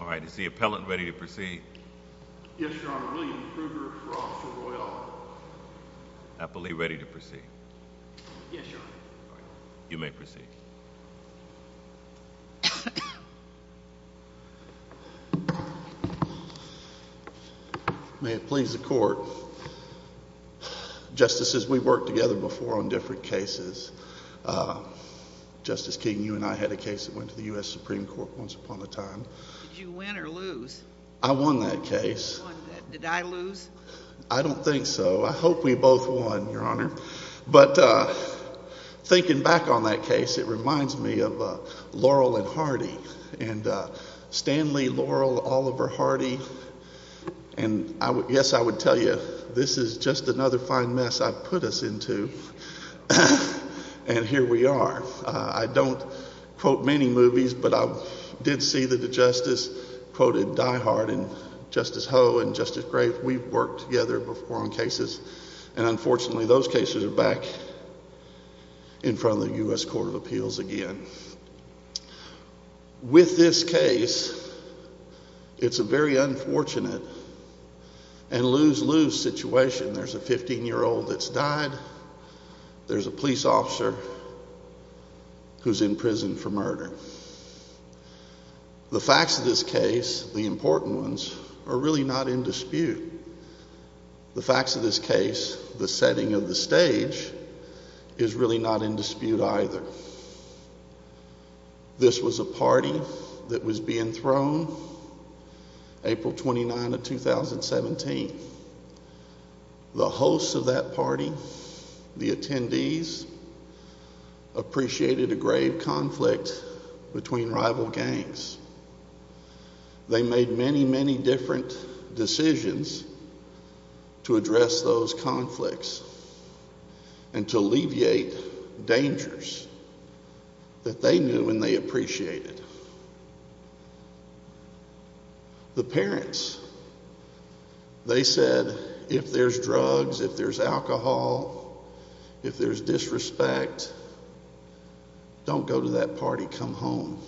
All right, is the appellant ready to proceed? Yes, Your Honor. William Krueger for Officer Doyle. Appellee, ready to proceed? Yes, Your Honor. You may proceed. May it please the court. Justices, we worked together before on different cases. Justice King, you and I had a case that went to the U.S. Supreme Court once upon a time. Did you win or lose? I won that case. Did I lose? I don't think so. I hope we both won, Your Honor. But thinking back on that case, it reminds me of Laurel and Hardy. And Stanley, Laurel, Oliver, Hardy. And yes, I would tell you, this is just another fine mess I've put us into. And here we are. I don't quote many movies, but I did see that the Justice quoted Diehard and Justice Ho and Justice Grave. We've worked together before on cases. And unfortunately, those cases are back in front of the U.S. Court of Appeals again. With this case, it's a very unfortunate and lose-lose situation. There's a 15-year-old that's died. There's a police officer who's in prison for murder. The facts of this case, the important ones, are really not in dispute. The facts of this case, the setting of the stage, is really not in dispute either. This was a party that was being thrown April 29 of 2017. The hosts of that party, the attendees, appreciated a grave conflict between rival gangs. They made many, many different decisions to address those conflicts and to alleviate dangers that they knew and they appreciated. The parents, they said, if there's drugs, if there's alcohol, if there's disrespect, don't go to that party, come home.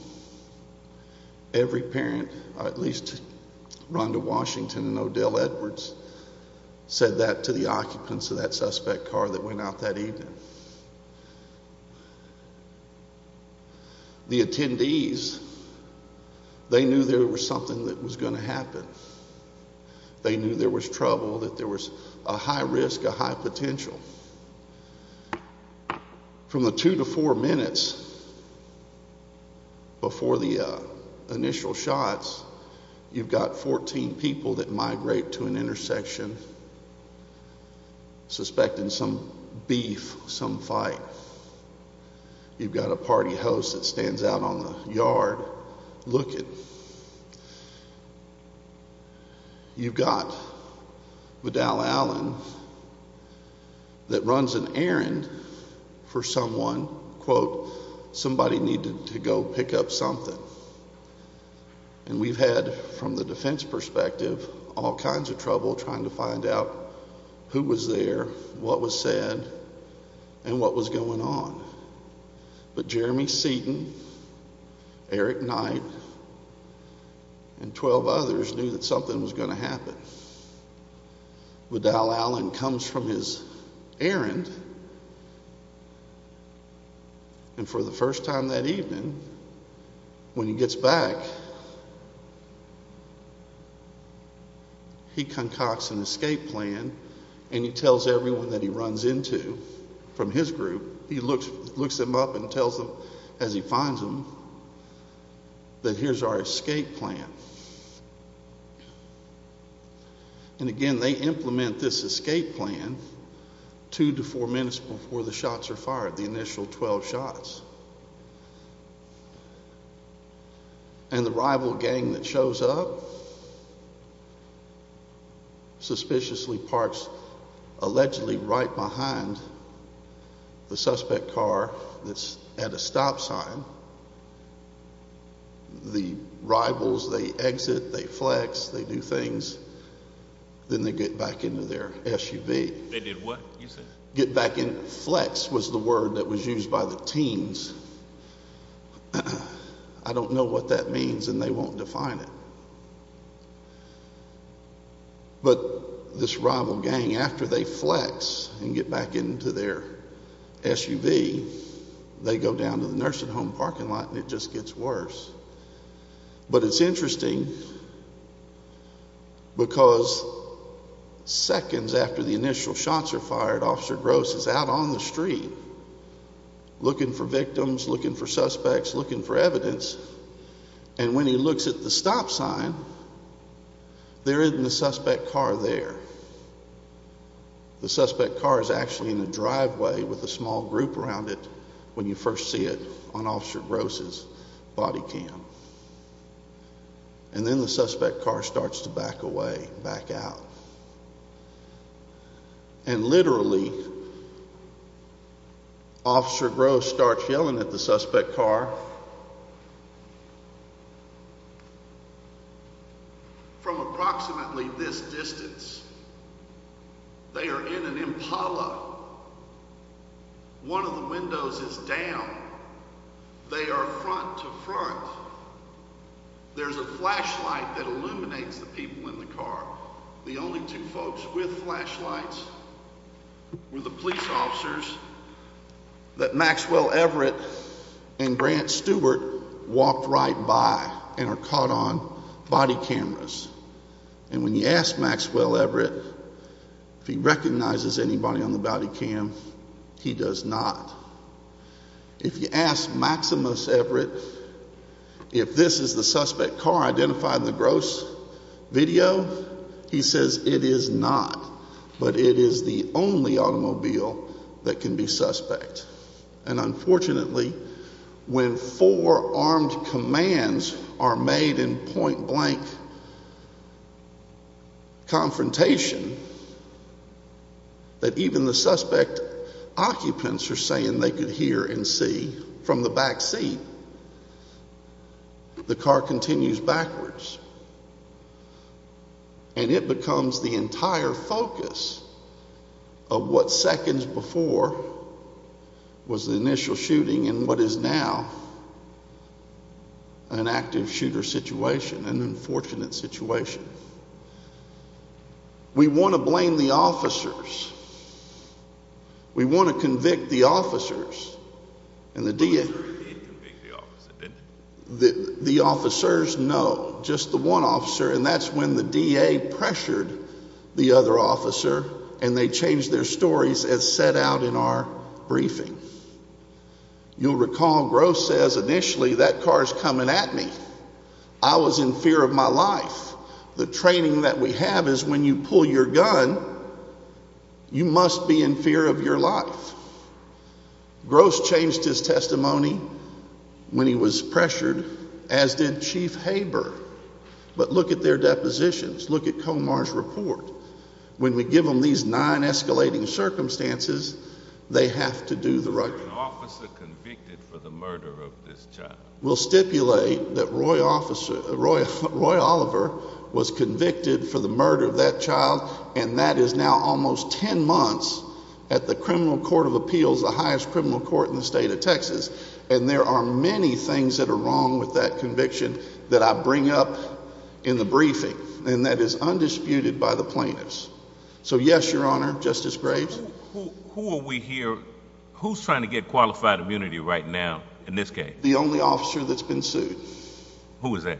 Every parent, at least Rhonda Washington and Odell Edwards, said that to the occupants of that suspect car that went out that evening. The attendees, they knew there was something that was going to happen. They knew there was trouble, that there was a high risk, a high potential. From the two to four minutes before the initial shots, you've got 14 people that migrate to an intersection suspecting some beef, some fight. You've got a party host that stands out on the yard looking. You've got Vidal Allen that runs an errand for someone, quote, somebody needed to go pick up something. And we've had, from the defense perspective, all kinds of trouble trying to find out who was there, what was said, and what was going on. But Jeremy Seaton, Eric Knight, and 12 others knew that something was going to happen. Vidal Allen comes from his errand, and for the first time that evening, when he gets back, he concocts an escape plan, and he tells everyone that he runs into from his group, he looks them up and tells them as he finds them that here's our escape plan. And again, they implement this escape plan two to four minutes before the shots are fired, the initial 12 shots. And the rival gang that shows up suspiciously parks allegedly right behind the suspect car that's at a stop sign. The rivals, they exit, they flex, they do things. Then they get back into their SUV. They did what, you said? Get back in. Flex was the word that was used by the teens. I don't know what that means, and they won't define it. But this rival gang, after they flex and get back into their SUV, they go down to the nursing home parking lot, and it just gets worse. But it's interesting, because seconds after the initial shots are fired, Officer Gross is out on the street looking for victims, looking for suspects, looking for evidence, and when he looks at the stop sign, there isn't a suspect car there. The suspect car is actually in the driveway with a small group around it when you first see it on Officer Gross' body cam. And then the suspect car starts to back away, back out. And literally, Officer Gross starts yelling at the suspect car. From approximately this distance, they are in an Impala. One of the windows is down. They are front to front. There's a flashlight that illuminates the people in the car. The only two folks with flashlights were the police officers that Maxwell Everett and Grant Stewart walked right by and are caught on body cameras. And when you ask Maxwell Everett if he recognizes anybody on the body cam, he does not. If you ask Maximus Everett if this is the suspect car identified in the Gross video, he says it is not, but it is the only automobile that can be suspect. And unfortunately, when four armed commands are made in point-blank confrontation that even the suspect occupants are saying they could hear and see from the back seat, the car continues backwards. And it becomes the entire focus of what seconds before was the initial shooting and what is now an active shooter situation, an unfortunate situation. We want to blame the officers. The officers? No, just the one officer, and that's when the DA pressured the other officer and they changed their stories as set out in our briefing. You'll recall Gross says initially, that car is coming at me. I was in fear of my life. The training that we have is when you pull your gun, you must be in fear of your life. Gross changed his testimony when he was pressured, as did Chief Haber. But look at their depositions. Look at Comar's report. When we give them these nine escalating circumstances, they have to do the right thing. There was an officer convicted for the murder of this child. We'll stipulate that Roy Oliver was convicted for the murder of that child, and that is now almost 10 months at the Criminal Court of Appeals, the highest criminal court in the state of Texas. And there are many things that are wrong with that conviction that I bring up in the briefing, and that is undisputed by the plaintiffs. So yes, Your Honor, Justice Graves. Who are we here, who's trying to get qualified immunity right now in this case? The only officer that's been sued. Who is that?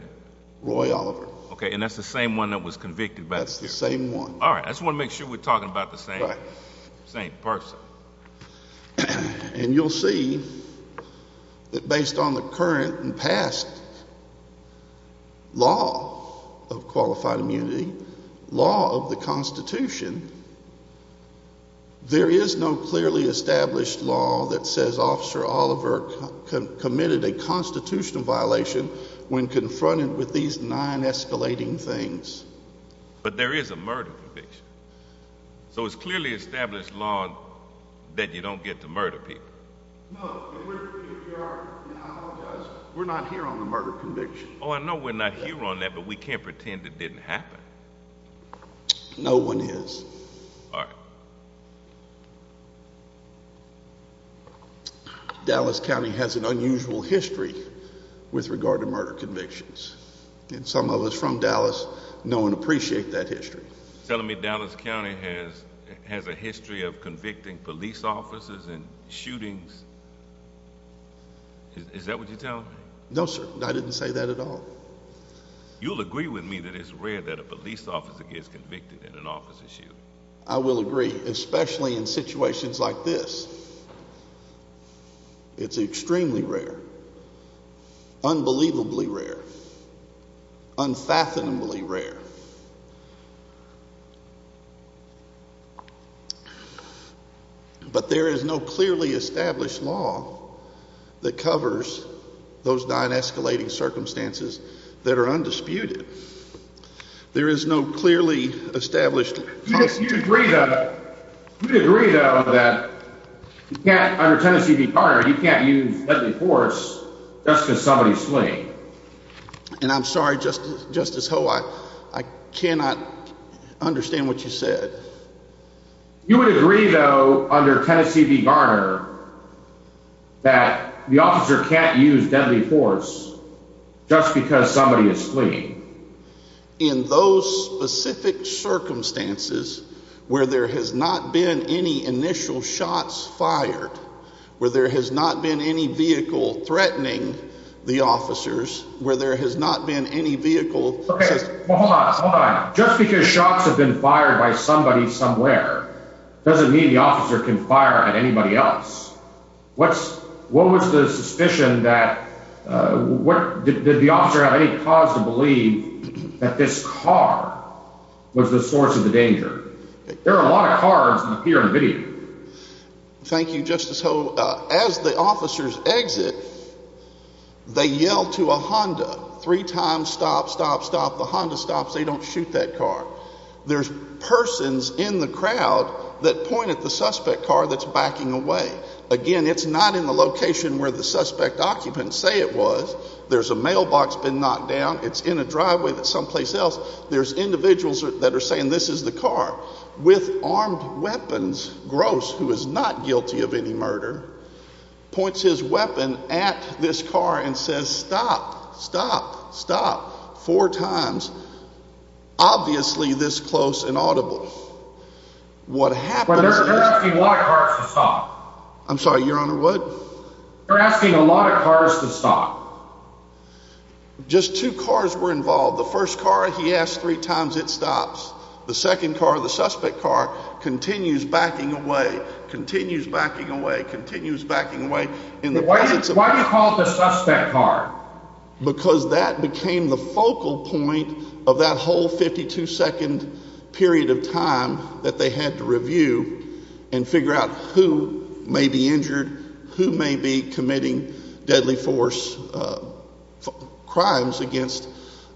Roy Oliver. Okay, and that's the same one that was convicted? That's the same one. All right. I just want to make sure we're talking about the same person. And you'll see that based on the current and past law of qualified immunity, law of the Constitution, there is no clearly established law that says Officer Oliver committed a constitutional violation when confronted with these nine escalating things. But there is a murder conviction. So it's clearly established law that you don't get to murder people. No, Your Honor, I apologize. We're not here on the murder conviction. Oh, I know we're not here on that, but we can't pretend it didn't happen. No one is. All right. Dallas County has an unusual history with regard to murder convictions. And some of us from Dallas know and appreciate that history. You're telling me Dallas County has a history of convicting police officers in shootings? Is that what you're telling me? No, sir. I didn't say that at all. You'll agree with me that it's rare that a police officer gets convicted in an officer's shooting. I will agree, especially in situations like this. It's extremely rare, unbelievably rare, unfathomably rare. But there is no clearly established law that covers those nine escalating circumstances that are undisputed. There is no clearly established law. You'd agree, though, that under Tennessee v. Garner, you can't use deadly force just because somebody is fleeing. And I'm sorry, Justice Ho, I cannot understand what you said. You would agree, though, under Tennessee v. Garner, that the officer can't use deadly force just because somebody is fleeing. In those specific circumstances where there has not been any initial shots fired, where there has not been any vehicle threatening the officers, where there has not been any vehicle... Well, hold on, hold on. Just because shots have been fired by somebody somewhere doesn't mean the officer can fire at anybody else. What was the suspicion that, did the officer have any cause to believe that this car was the source of the danger? There are a lot of cars here in the video. Thank you, Justice Ho. As the officers exit, they yell to a Honda. Three times, stop, stop, stop. The Honda stops. They don't shoot that car. There's persons in the crowd that point at the suspect car that's backing away. Again, it's not in the location where the suspect occupants say it was. There's a mailbox been knocked down. It's in a driveway that's someplace else. There's individuals that are saying this is the car. With armed weapons, Gross, who is not guilty of any murder, points his weapon at this car and says, stop, stop, stop. Four times. Obviously this close and audible. What happens is... You're asking a lot of cars to stop. I'm sorry, Your Honor, what? You're asking a lot of cars to stop. Just two cars were involved. The first car, he asked three times, it stops. The second car, the suspect car, continues backing away, continues backing away, continues backing away. Why do you call it the suspect car? Because that became the focal point of that whole 52-second period of time that they had to review and figure out who may be injured, who may be committing deadly force crimes against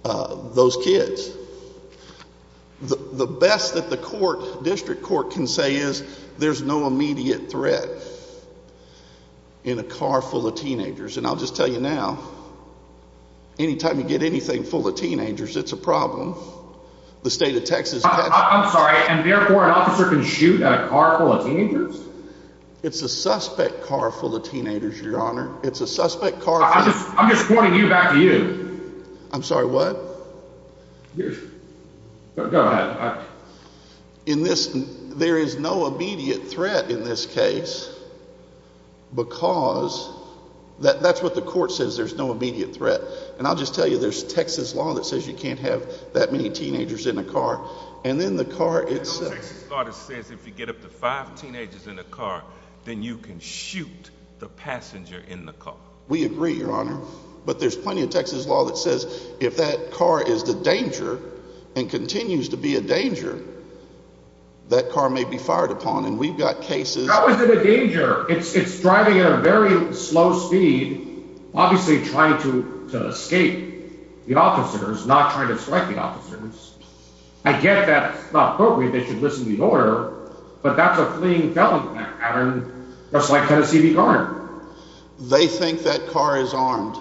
those kids. The best that the court, district court, can say is there's no immediate threat in a car full of teenagers. And I'll just tell you now, any time you get anything full of teenagers, it's a problem. The state of Texas... I'm sorry, and therefore an officer can shoot at a car full of teenagers? It's a suspect car full of teenagers, Your Honor. It's a suspect car... I'm just pointing you back to you. I'm sorry, what? Go ahead. There is no immediate threat in this case because... That's what the court says, there's no immediate threat. And I'll just tell you, there's Texas law that says you can't have that many teenagers in a car. And then the car itself... No Texas law that says if you get up to five teenagers in a car, then you can shoot the passenger in the car. We agree, Your Honor. But there's plenty of Texas law that says if that car is the danger and continues to be a danger, that car may be fired upon. And we've got cases... How is it a danger? It's driving at a very slow speed, obviously trying to escape the officers, not trying to strike the officers. I get that it's not appropriate, they should listen to the order, but that's a fleeing felon pattern just like Tennessee v. Garner. They think that car is armed.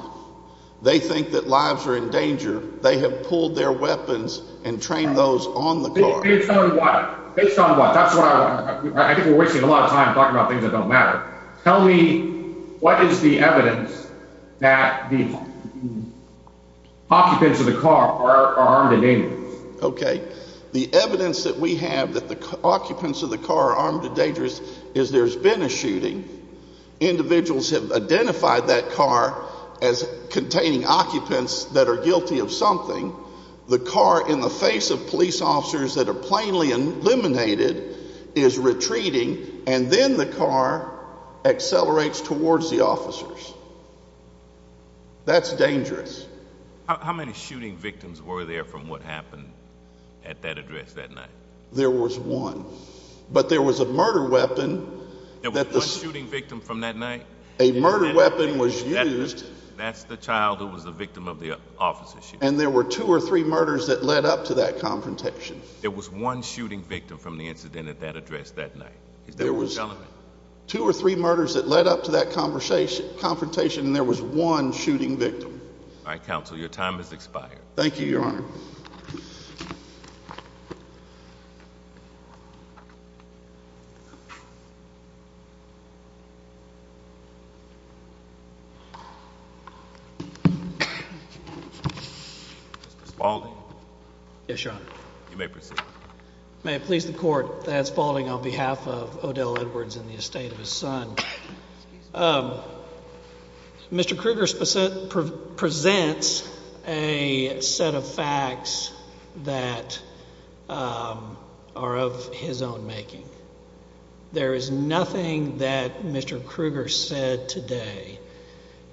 They think that lives are in danger. They have pulled their weapons and trained those on the car. Based on what? Based on what? That's what I want... I think we're wasting a lot of time talking about things that don't matter. Tell me what is the evidence that the occupants of the car are armed and dangerous? Okay, the evidence that we have that the occupants of the car are armed and dangerous is there's been a shooting. Individuals have identified that car as containing occupants that are guilty of something. The car in the face of police officers that are plainly eliminated is retreating and then the car accelerates towards the officers. That's dangerous. How many shooting victims were there from what happened at that address that night? There was one, but there was a murder weapon... There was one shooting victim from that night? A murder weapon was used... and there were two or three murders that led up to that confrontation. There was one shooting victim from the incident at that address that night? There was two or three murders that led up to that confrontation and there was one shooting victim. All right, Counsel, your time has expired. Thank you, Your Honor. Mr. Spaulding? Yes, Your Honor. You may proceed. May it please the Court, that's Spaulding on behalf of Odell Edwards and the estate of his son. Mr. Kruger presents a set of facts that are of his own making. There is nothing that Mr. Kruger said today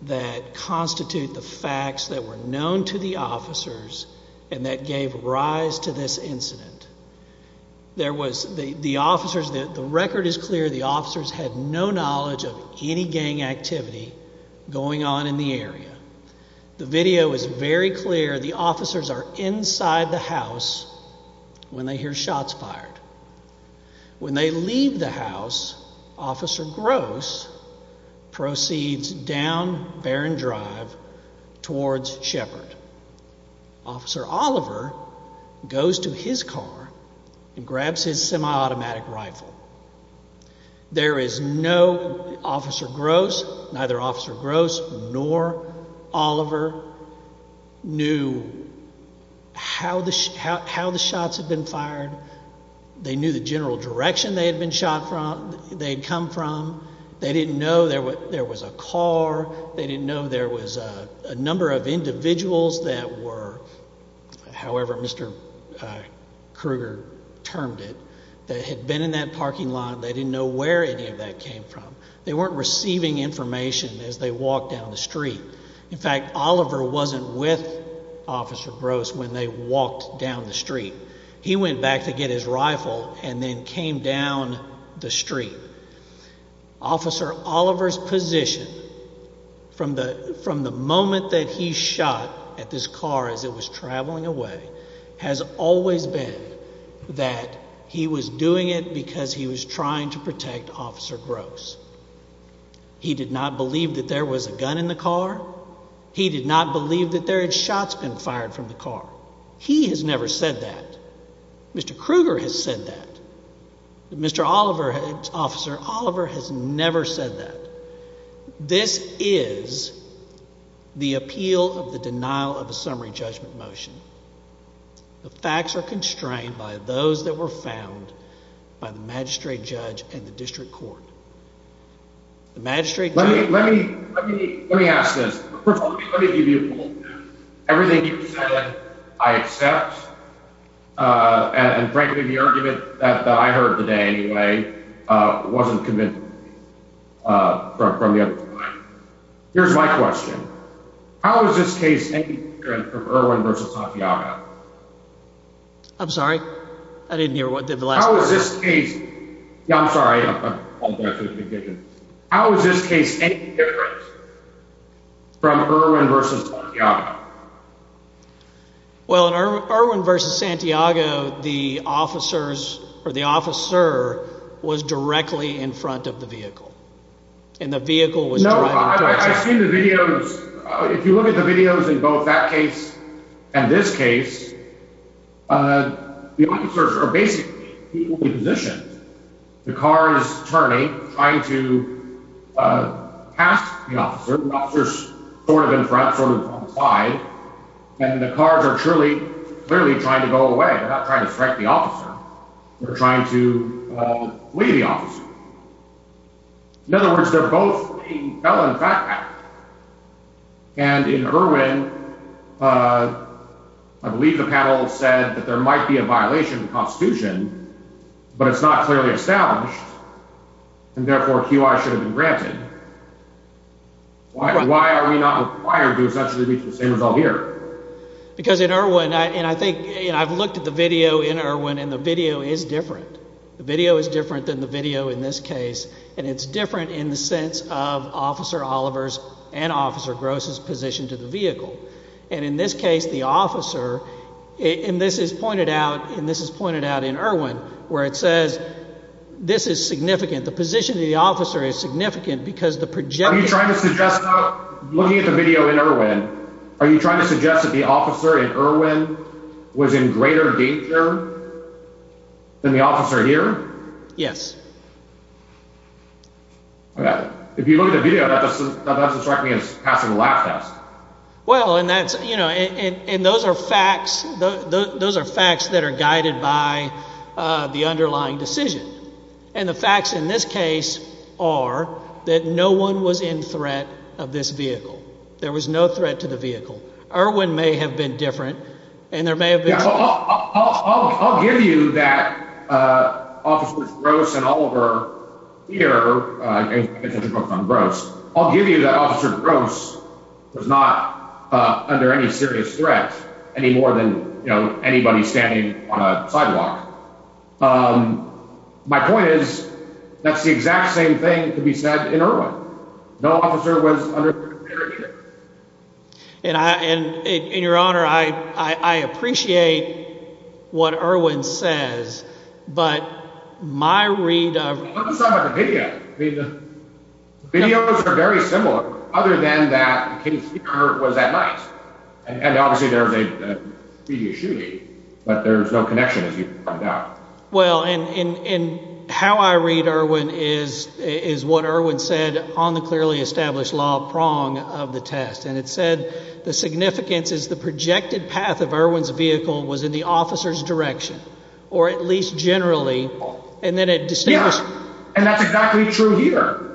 that constitute the facts that were known to the officers and that gave rise to this incident. The record is clear. The officers had no knowledge of any gang activity going on in the area. The video is very clear. The officers are inside the house when they hear shots fired. When they leave the house, Officer Gross proceeds down Barron Drive towards Shepard. Officer Oliver goes to his car and grabs his semi-automatic rifle. There is no—Officer Gross, neither Officer Gross nor Oliver knew how the shots had been fired. They knew the general direction they had come from. They didn't know there was a car. They didn't know there was a number of individuals that were—however Mr. Kruger termed it—that had been in that parking lot. They didn't know where any of that came from. They weren't receiving information as they walked down the street. In fact, Oliver wasn't with Officer Gross when they walked down the street. He went back to get his rifle and then came down the street. Officer Oliver's position from the moment that he shot at this car as it was traveling away has always been that he was doing it because he was trying to protect Officer Gross. He did not believe that there was a gun in the car. He did not believe that there had been shots fired from the car. He has never said that. Mr. Kruger has said that. Mr. Oliver—Officer Oliver has never said that. This is the appeal of the denial of a summary judgment motion. The facts are constrained by those that were found by the magistrate judge and the district court. The magistrate judge— Let me ask this. Everything you've said, I accept. And frankly, the argument that I heard today, anyway, wasn't convincing from the other time. Here's my question. How is this case any different from Irwin v. Safiago? I'm sorry? I didn't hear what the last question was. How is this case—I'm sorry. How is this case any different from Irwin v. Safiago? Well, in Irwin v. Safiago, the officer was directly in front of the vehicle. And the vehicle was driving— No, I've seen the videos. If you look at the videos in both that case and this case, the officers are basically equally positioned. The car is turning, trying to pass the officer. The officer's sort of in front, sort of on the side. And the cars are clearly trying to go away. They're not trying to strike the officer. They're trying to flee the officer. In other words, they're both being felon fat pack. And in Irwin, I believe the panel said that there might be a violation of the Constitution, but it's not clearly established, and therefore QI should have been granted. Why are we not required to essentially reach the same result here? Because in Irwin—and I think—I've looked at the video in Irwin, and the video is different. The video is different than the video in this case. And it's different in the sense of Officer Oliver's and Officer Gross's position to the vehicle. And in this case, the officer—and this is pointed out in Irwin where it says this is significant. The position of the officer is significant because the projection— Are you trying to suggest—looking at the video in Irwin, are you trying to suggest that the officer in Irwin was in greater danger than the officer here? Yes. If you look at the video, that doesn't strike me as passing a lab test. Well, and that's—and those are facts. Those are facts that are guided by the underlying decision. And the facts in this case are that no one was in threat of this vehicle. There was no threat to the vehicle. Irwin may have been different, and there may have been— I'll give you that Officer Gross and Oliver here— I'll give you that Officer Gross was not under any serious threat any more than anybody standing on a sidewalk. My point is that's the exact same thing to be said in Irwin. No officer was under greater danger. And, Your Honor, I appreciate what Irwin says, but my read of— It doesn't sound like a video. Videos are very similar, other than that Katie Speicher was at night. And, obviously, there's a video shooting, but there's no connection, as you can find out. Well, and how I read Irwin is what Irwin said on the clearly established law prong of the test. And it said the significance is the projected path of Irwin's vehicle was in the officer's direction, or at least generally, and then it— Yeah, and that's exactly true here.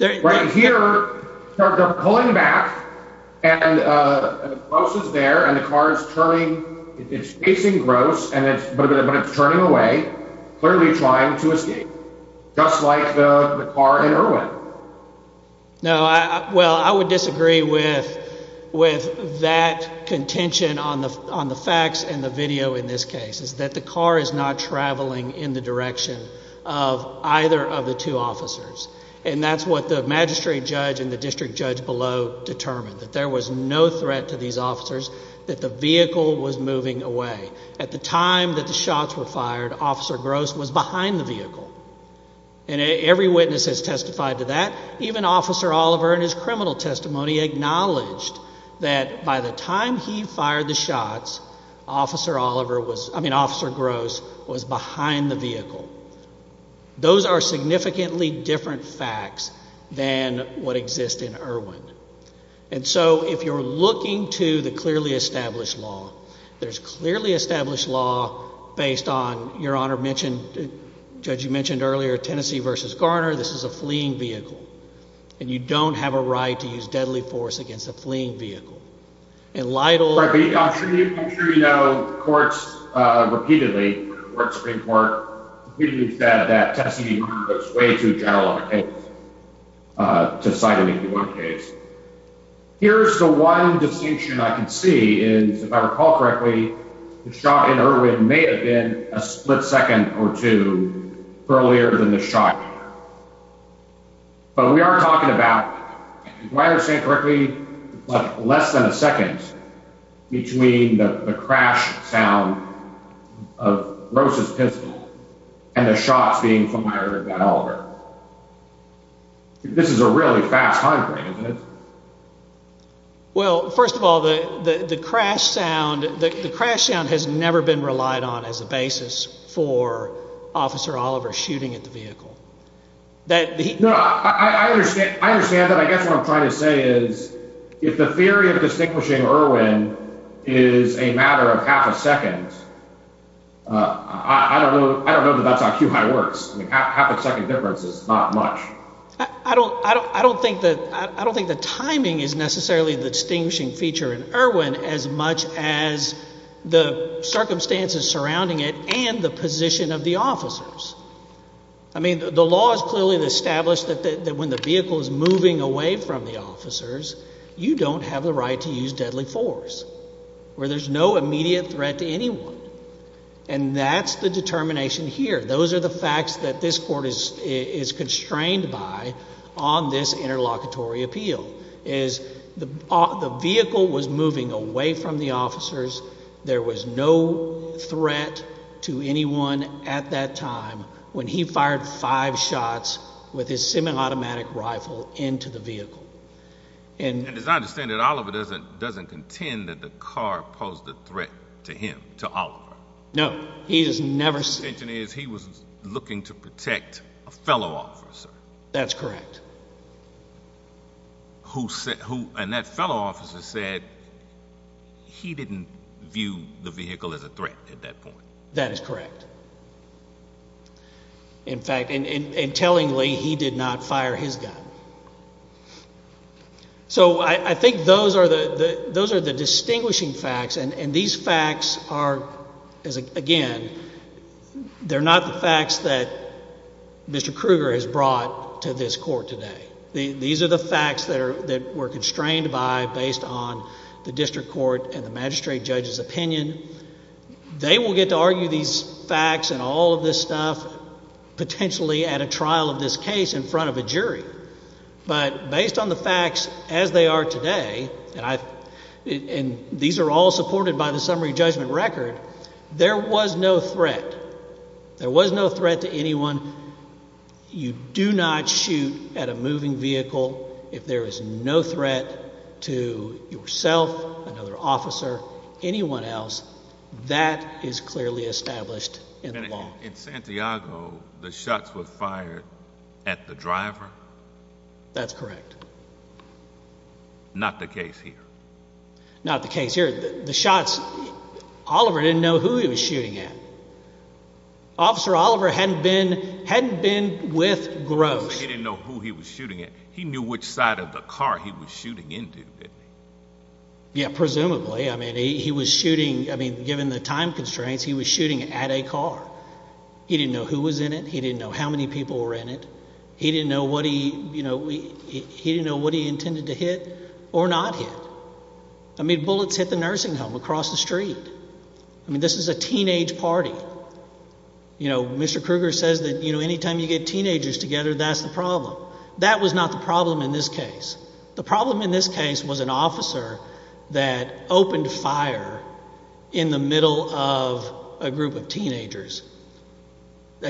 Right here, they're pulling back, and Gross is there, and the car is turning. It's facing Gross, but it's turning away, clearly trying to escape, just like the car in Irwin. No, well, I would disagree with that contention on the facts and the video in this case. It's that the car is not traveling in the direction of either of the two officers. And that's what the magistrate judge and the district judge below determined, that there was no threat to these officers, that the vehicle was moving away. At the time that the shots were fired, Officer Gross was behind the vehicle. And every witness has testified to that. Even Officer Oliver in his criminal testimony acknowledged that by the time he fired the shots, Officer Gross was behind the vehicle. Those are significantly different facts than what exists in Irwin. And so if you're looking to the clearly established law, there's clearly established law based on, Your Honor mentioned— Judge, you mentioned earlier Tennessee v. Garner. This is a fleeing vehicle, and you don't have a right to use deadly force against a fleeing vehicle. And Lytle— Right, but I'm sure you know, courts repeatedly, the Supreme Court, repeatedly said that Tennessee v. Garner was way too general of a case to cite an AP1 case. Here's the one distinction I can see is, if I recall correctly, the shot in Irwin may have been a split second or two earlier than the shot here. But we are talking about, if I understand correctly, less than a second between the crash sound of Gross' pistol and the shots being fired by Oliver. This is a really fast time frame, isn't it? Well, first of all, the crash sound has never been relied on as a basis for Officer Oliver shooting at the vehicle. No, I understand that. I guess what I'm trying to say is, if the theory of distinguishing Irwin is a matter of half a second, I don't know that that's how QI works. Half a second difference is not much. I don't think the timing is necessarily the distinguishing feature in Irwin as much as the circumstances surrounding it and the position of the officers. I mean, the law is clearly established that when the vehicle is moving away from the officers, you don't have the right to use deadly force, where there's no immediate threat to anyone. And that's the determination here. Those are the facts that this Court is constrained by on this interlocutory appeal, is the vehicle was moving away from the officers. There was no threat to anyone at that time when he fired five shots with his semi-automatic rifle into the vehicle. And as I understand it, Oliver doesn't contend that the car posed a threat to him, to Oliver. No, he has never said that. His intention is he was looking to protect a fellow officer. That's correct. And that fellow officer said he didn't view the vehicle as a threat at that point. That is correct. In fact, and tellingly, he did not fire his gun. So I think those are the distinguishing facts, and these facts are, again, they're not the facts that Mr. Kruger has brought to this Court today. These are the facts that we're constrained by based on the district court and the magistrate judge's opinion. They will get to argue these facts and all of this stuff potentially at a trial of this case in front of a jury. But based on the facts as they are today, and these are all supported by the summary judgment record, there was no threat. There was no threat to anyone. You do not shoot at a moving vehicle if there is no threat to yourself, another officer, anyone else. That is clearly established in the law. In Santiago, the shots were fired at the driver? That's correct. Not the case here? Not the case here. The shots, Oliver didn't know who he was shooting at. Officer Oliver hadn't been with Gross. He didn't know who he was shooting at. He knew which side of the car he was shooting into, didn't he? Yeah, presumably. I mean, given the time constraints, he was shooting at a car. He didn't know who was in it. He didn't know how many people were in it. He didn't know what he intended to hit or not hit. I mean, bullets hit the nursing home across the street. I mean, this is a teenage party. Mr. Kruger says that any time you get teenagers together, that's the problem. That was not the problem in this case. The problem in this case was an officer that opened fire in the middle of a group of teenagers.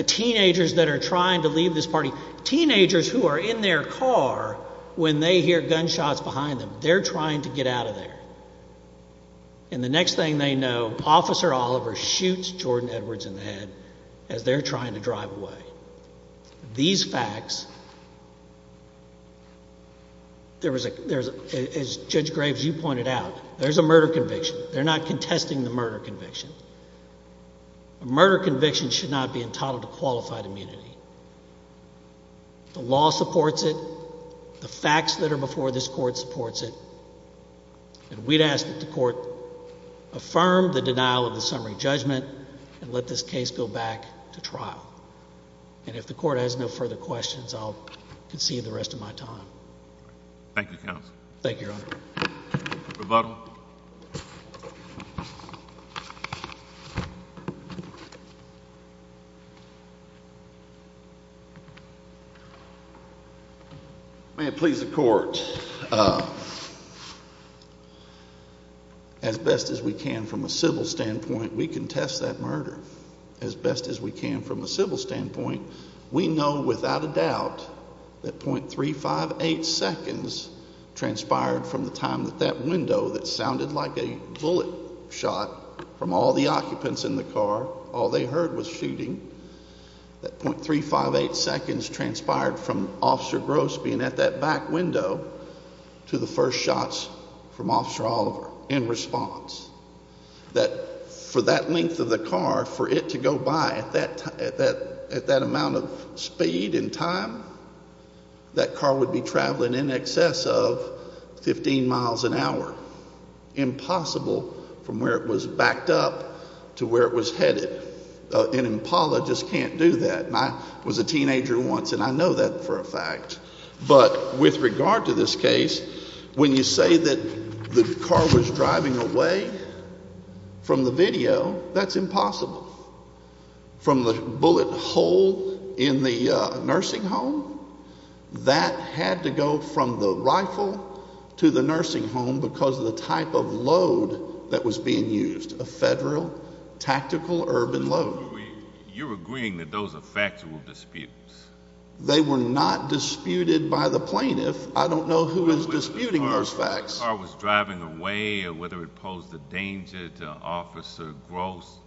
Teenagers that are trying to leave this party, teenagers who are in their car when they hear gunshots behind them, they're trying to get out of there. And the next thing they know, Officer Oliver shoots Jordan Edwards in the head as they're trying to drive away. These facts, as Judge Graves, you pointed out, there's a murder conviction. They're not contesting the murder conviction. A murder conviction should not be entitled to qualified immunity. The law supports it. The facts that are before this court supports it. And we'd ask that the court affirm the denial of the summary judgment and let this case go back to trial. And if the court has no further questions, I'll concede the rest of my time. Thank you, counsel. Thank you, Your Honor. Rebuttal. Rebuttal. May it please the court. As best as we can from a civil standpoint, we contest that murder. As best as we can from a civil standpoint, we know without a doubt that .358 seconds transpired from the time that that window that sounded like a bullet shot from all the occupants in the car, all they heard was shooting. That .358 seconds transpired from Officer Gross being at that back window to the first shots from Officer Oliver in response. That for that length of the car, for it to go by at that amount of speed and time, that car would be traveling in excess of 15 miles an hour. Impossible from where it was backed up to where it was headed. An apologist can't do that. I was a teenager once, and I know that for a fact. But with regard to this case, when you say that the car was driving away from the video, that's impossible. From the bullet hole in the nursing home, that had to go from the rifle to the nursing home because of the type of load that was being used, a federal tactical urban load. You're agreeing that those are factual disputes. They were not disputed by the plaintiff. I don't know who is disputing those facts. Whether the car was driving away or whether it posed a danger to Officer Gross,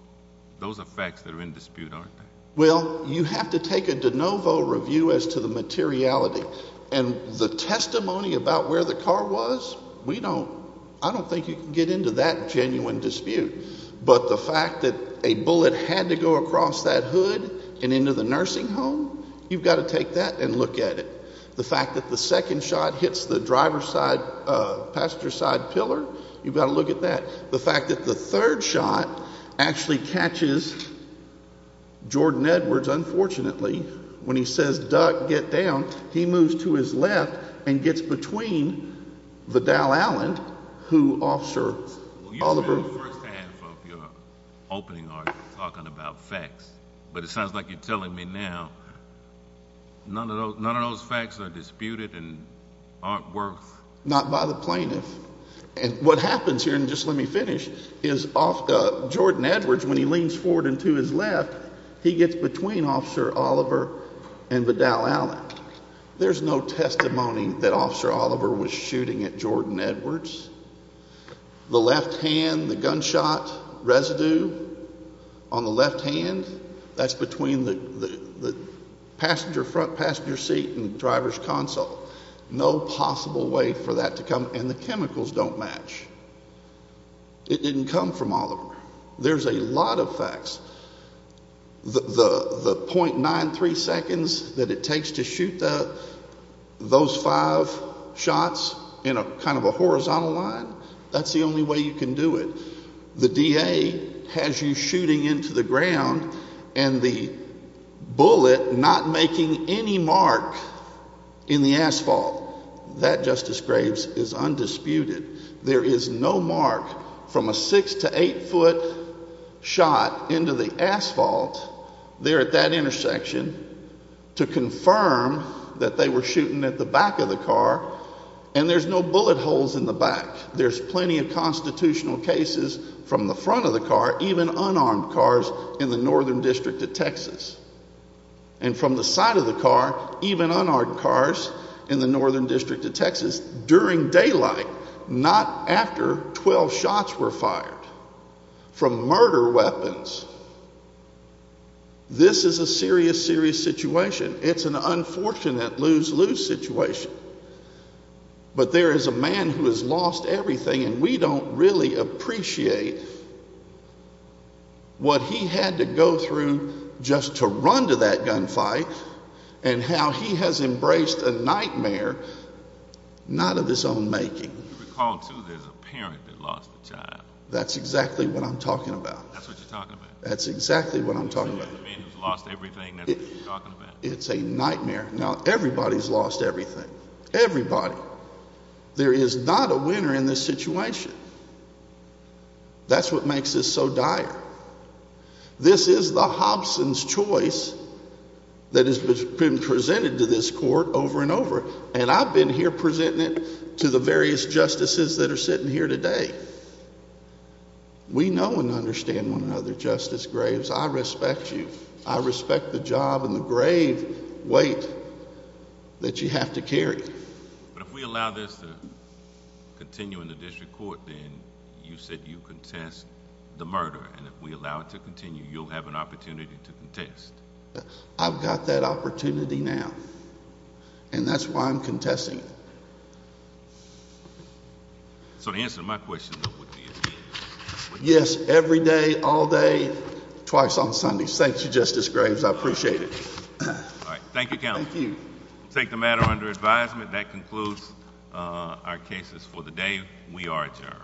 those are facts that are in dispute, aren't they? Well, you have to take a de novo review as to the materiality. And the testimony about where the car was, I don't think you can get into that genuine dispute. But the fact that a bullet had to go across that hood and into the nursing home, you've got to take that and look at it. The fact that the second shot hits the passenger side pillar, you've got to look at that. The fact that the third shot actually catches Jordan Edwards, unfortunately, when he says, duck, get down, he moves to his left and gets between Vidal Allen, who Officer Oliver— Well, you spent the first half of your opening argument talking about facts, but it sounds like you're telling me now none of those facts are disputed and aren't worth— Not by the plaintiff. And what happens here, and just let me finish, is Jordan Edwards, when he leans forward and to his left, he gets between Officer Oliver and Vidal Allen. There's no testimony that Officer Oliver was shooting at Jordan Edwards. The left hand, the gunshot residue on the left hand, that's between the front passenger seat and the driver's console. No possible way for that to come—and the chemicals don't match. It didn't come from Oliver. There's a lot of facts. The .93 seconds that it takes to shoot those five shots in kind of a horizontal line, that's the only way you can do it. The DA has you shooting into the ground and the bullet not making any mark in the asphalt. That, Justice Graves, is undisputed. There is no mark from a six- to eight-foot shot into the asphalt there at that intersection to confirm that they were shooting at the back of the car, and there's no bullet holes in the back. There's plenty of constitutional cases from the front of the car, even unarmed cars, in the Northern District of Texas. And from the side of the car, even unarmed cars in the Northern District of Texas. That's during daylight, not after 12 shots were fired from murder weapons. This is a serious, serious situation. It's an unfortunate lose-lose situation. But there is a man who has lost everything, and we don't really appreciate what he had to go through just to run to that gunfight and how he has embraced a nightmare not of his own making. You recall, too, there's a parent that lost a child. That's exactly what I'm talking about. That's what you're talking about. That's exactly what I'm talking about. You're saying there's a man who's lost everything, and that's what you're talking about. It's a nightmare. Now, everybody's lost everything. Everybody. There is not a winner in this situation. That's what makes this so dire. This is the Hobson's choice that has been presented to this court over and over, and I've been here presenting it to the various justices that are sitting here today. We know and understand one another, Justice Graves. I respect you. I respect the job and the grave weight that you have to carry. But if we allow this to continue in the district court, then you said you contest the murder, and if we allow it to continue, you'll have an opportunity to contest. I've got that opportunity now, and that's why I'm contesting it. So the answer to my question, though, would be a yes. Yes, every day, all day, twice on Sundays. Thank you, Justice Graves. I appreciate it. All right. Thank you, Counsel. Thank you. We'll take the matter under advisement. That concludes our cases for the day. We are adjourned.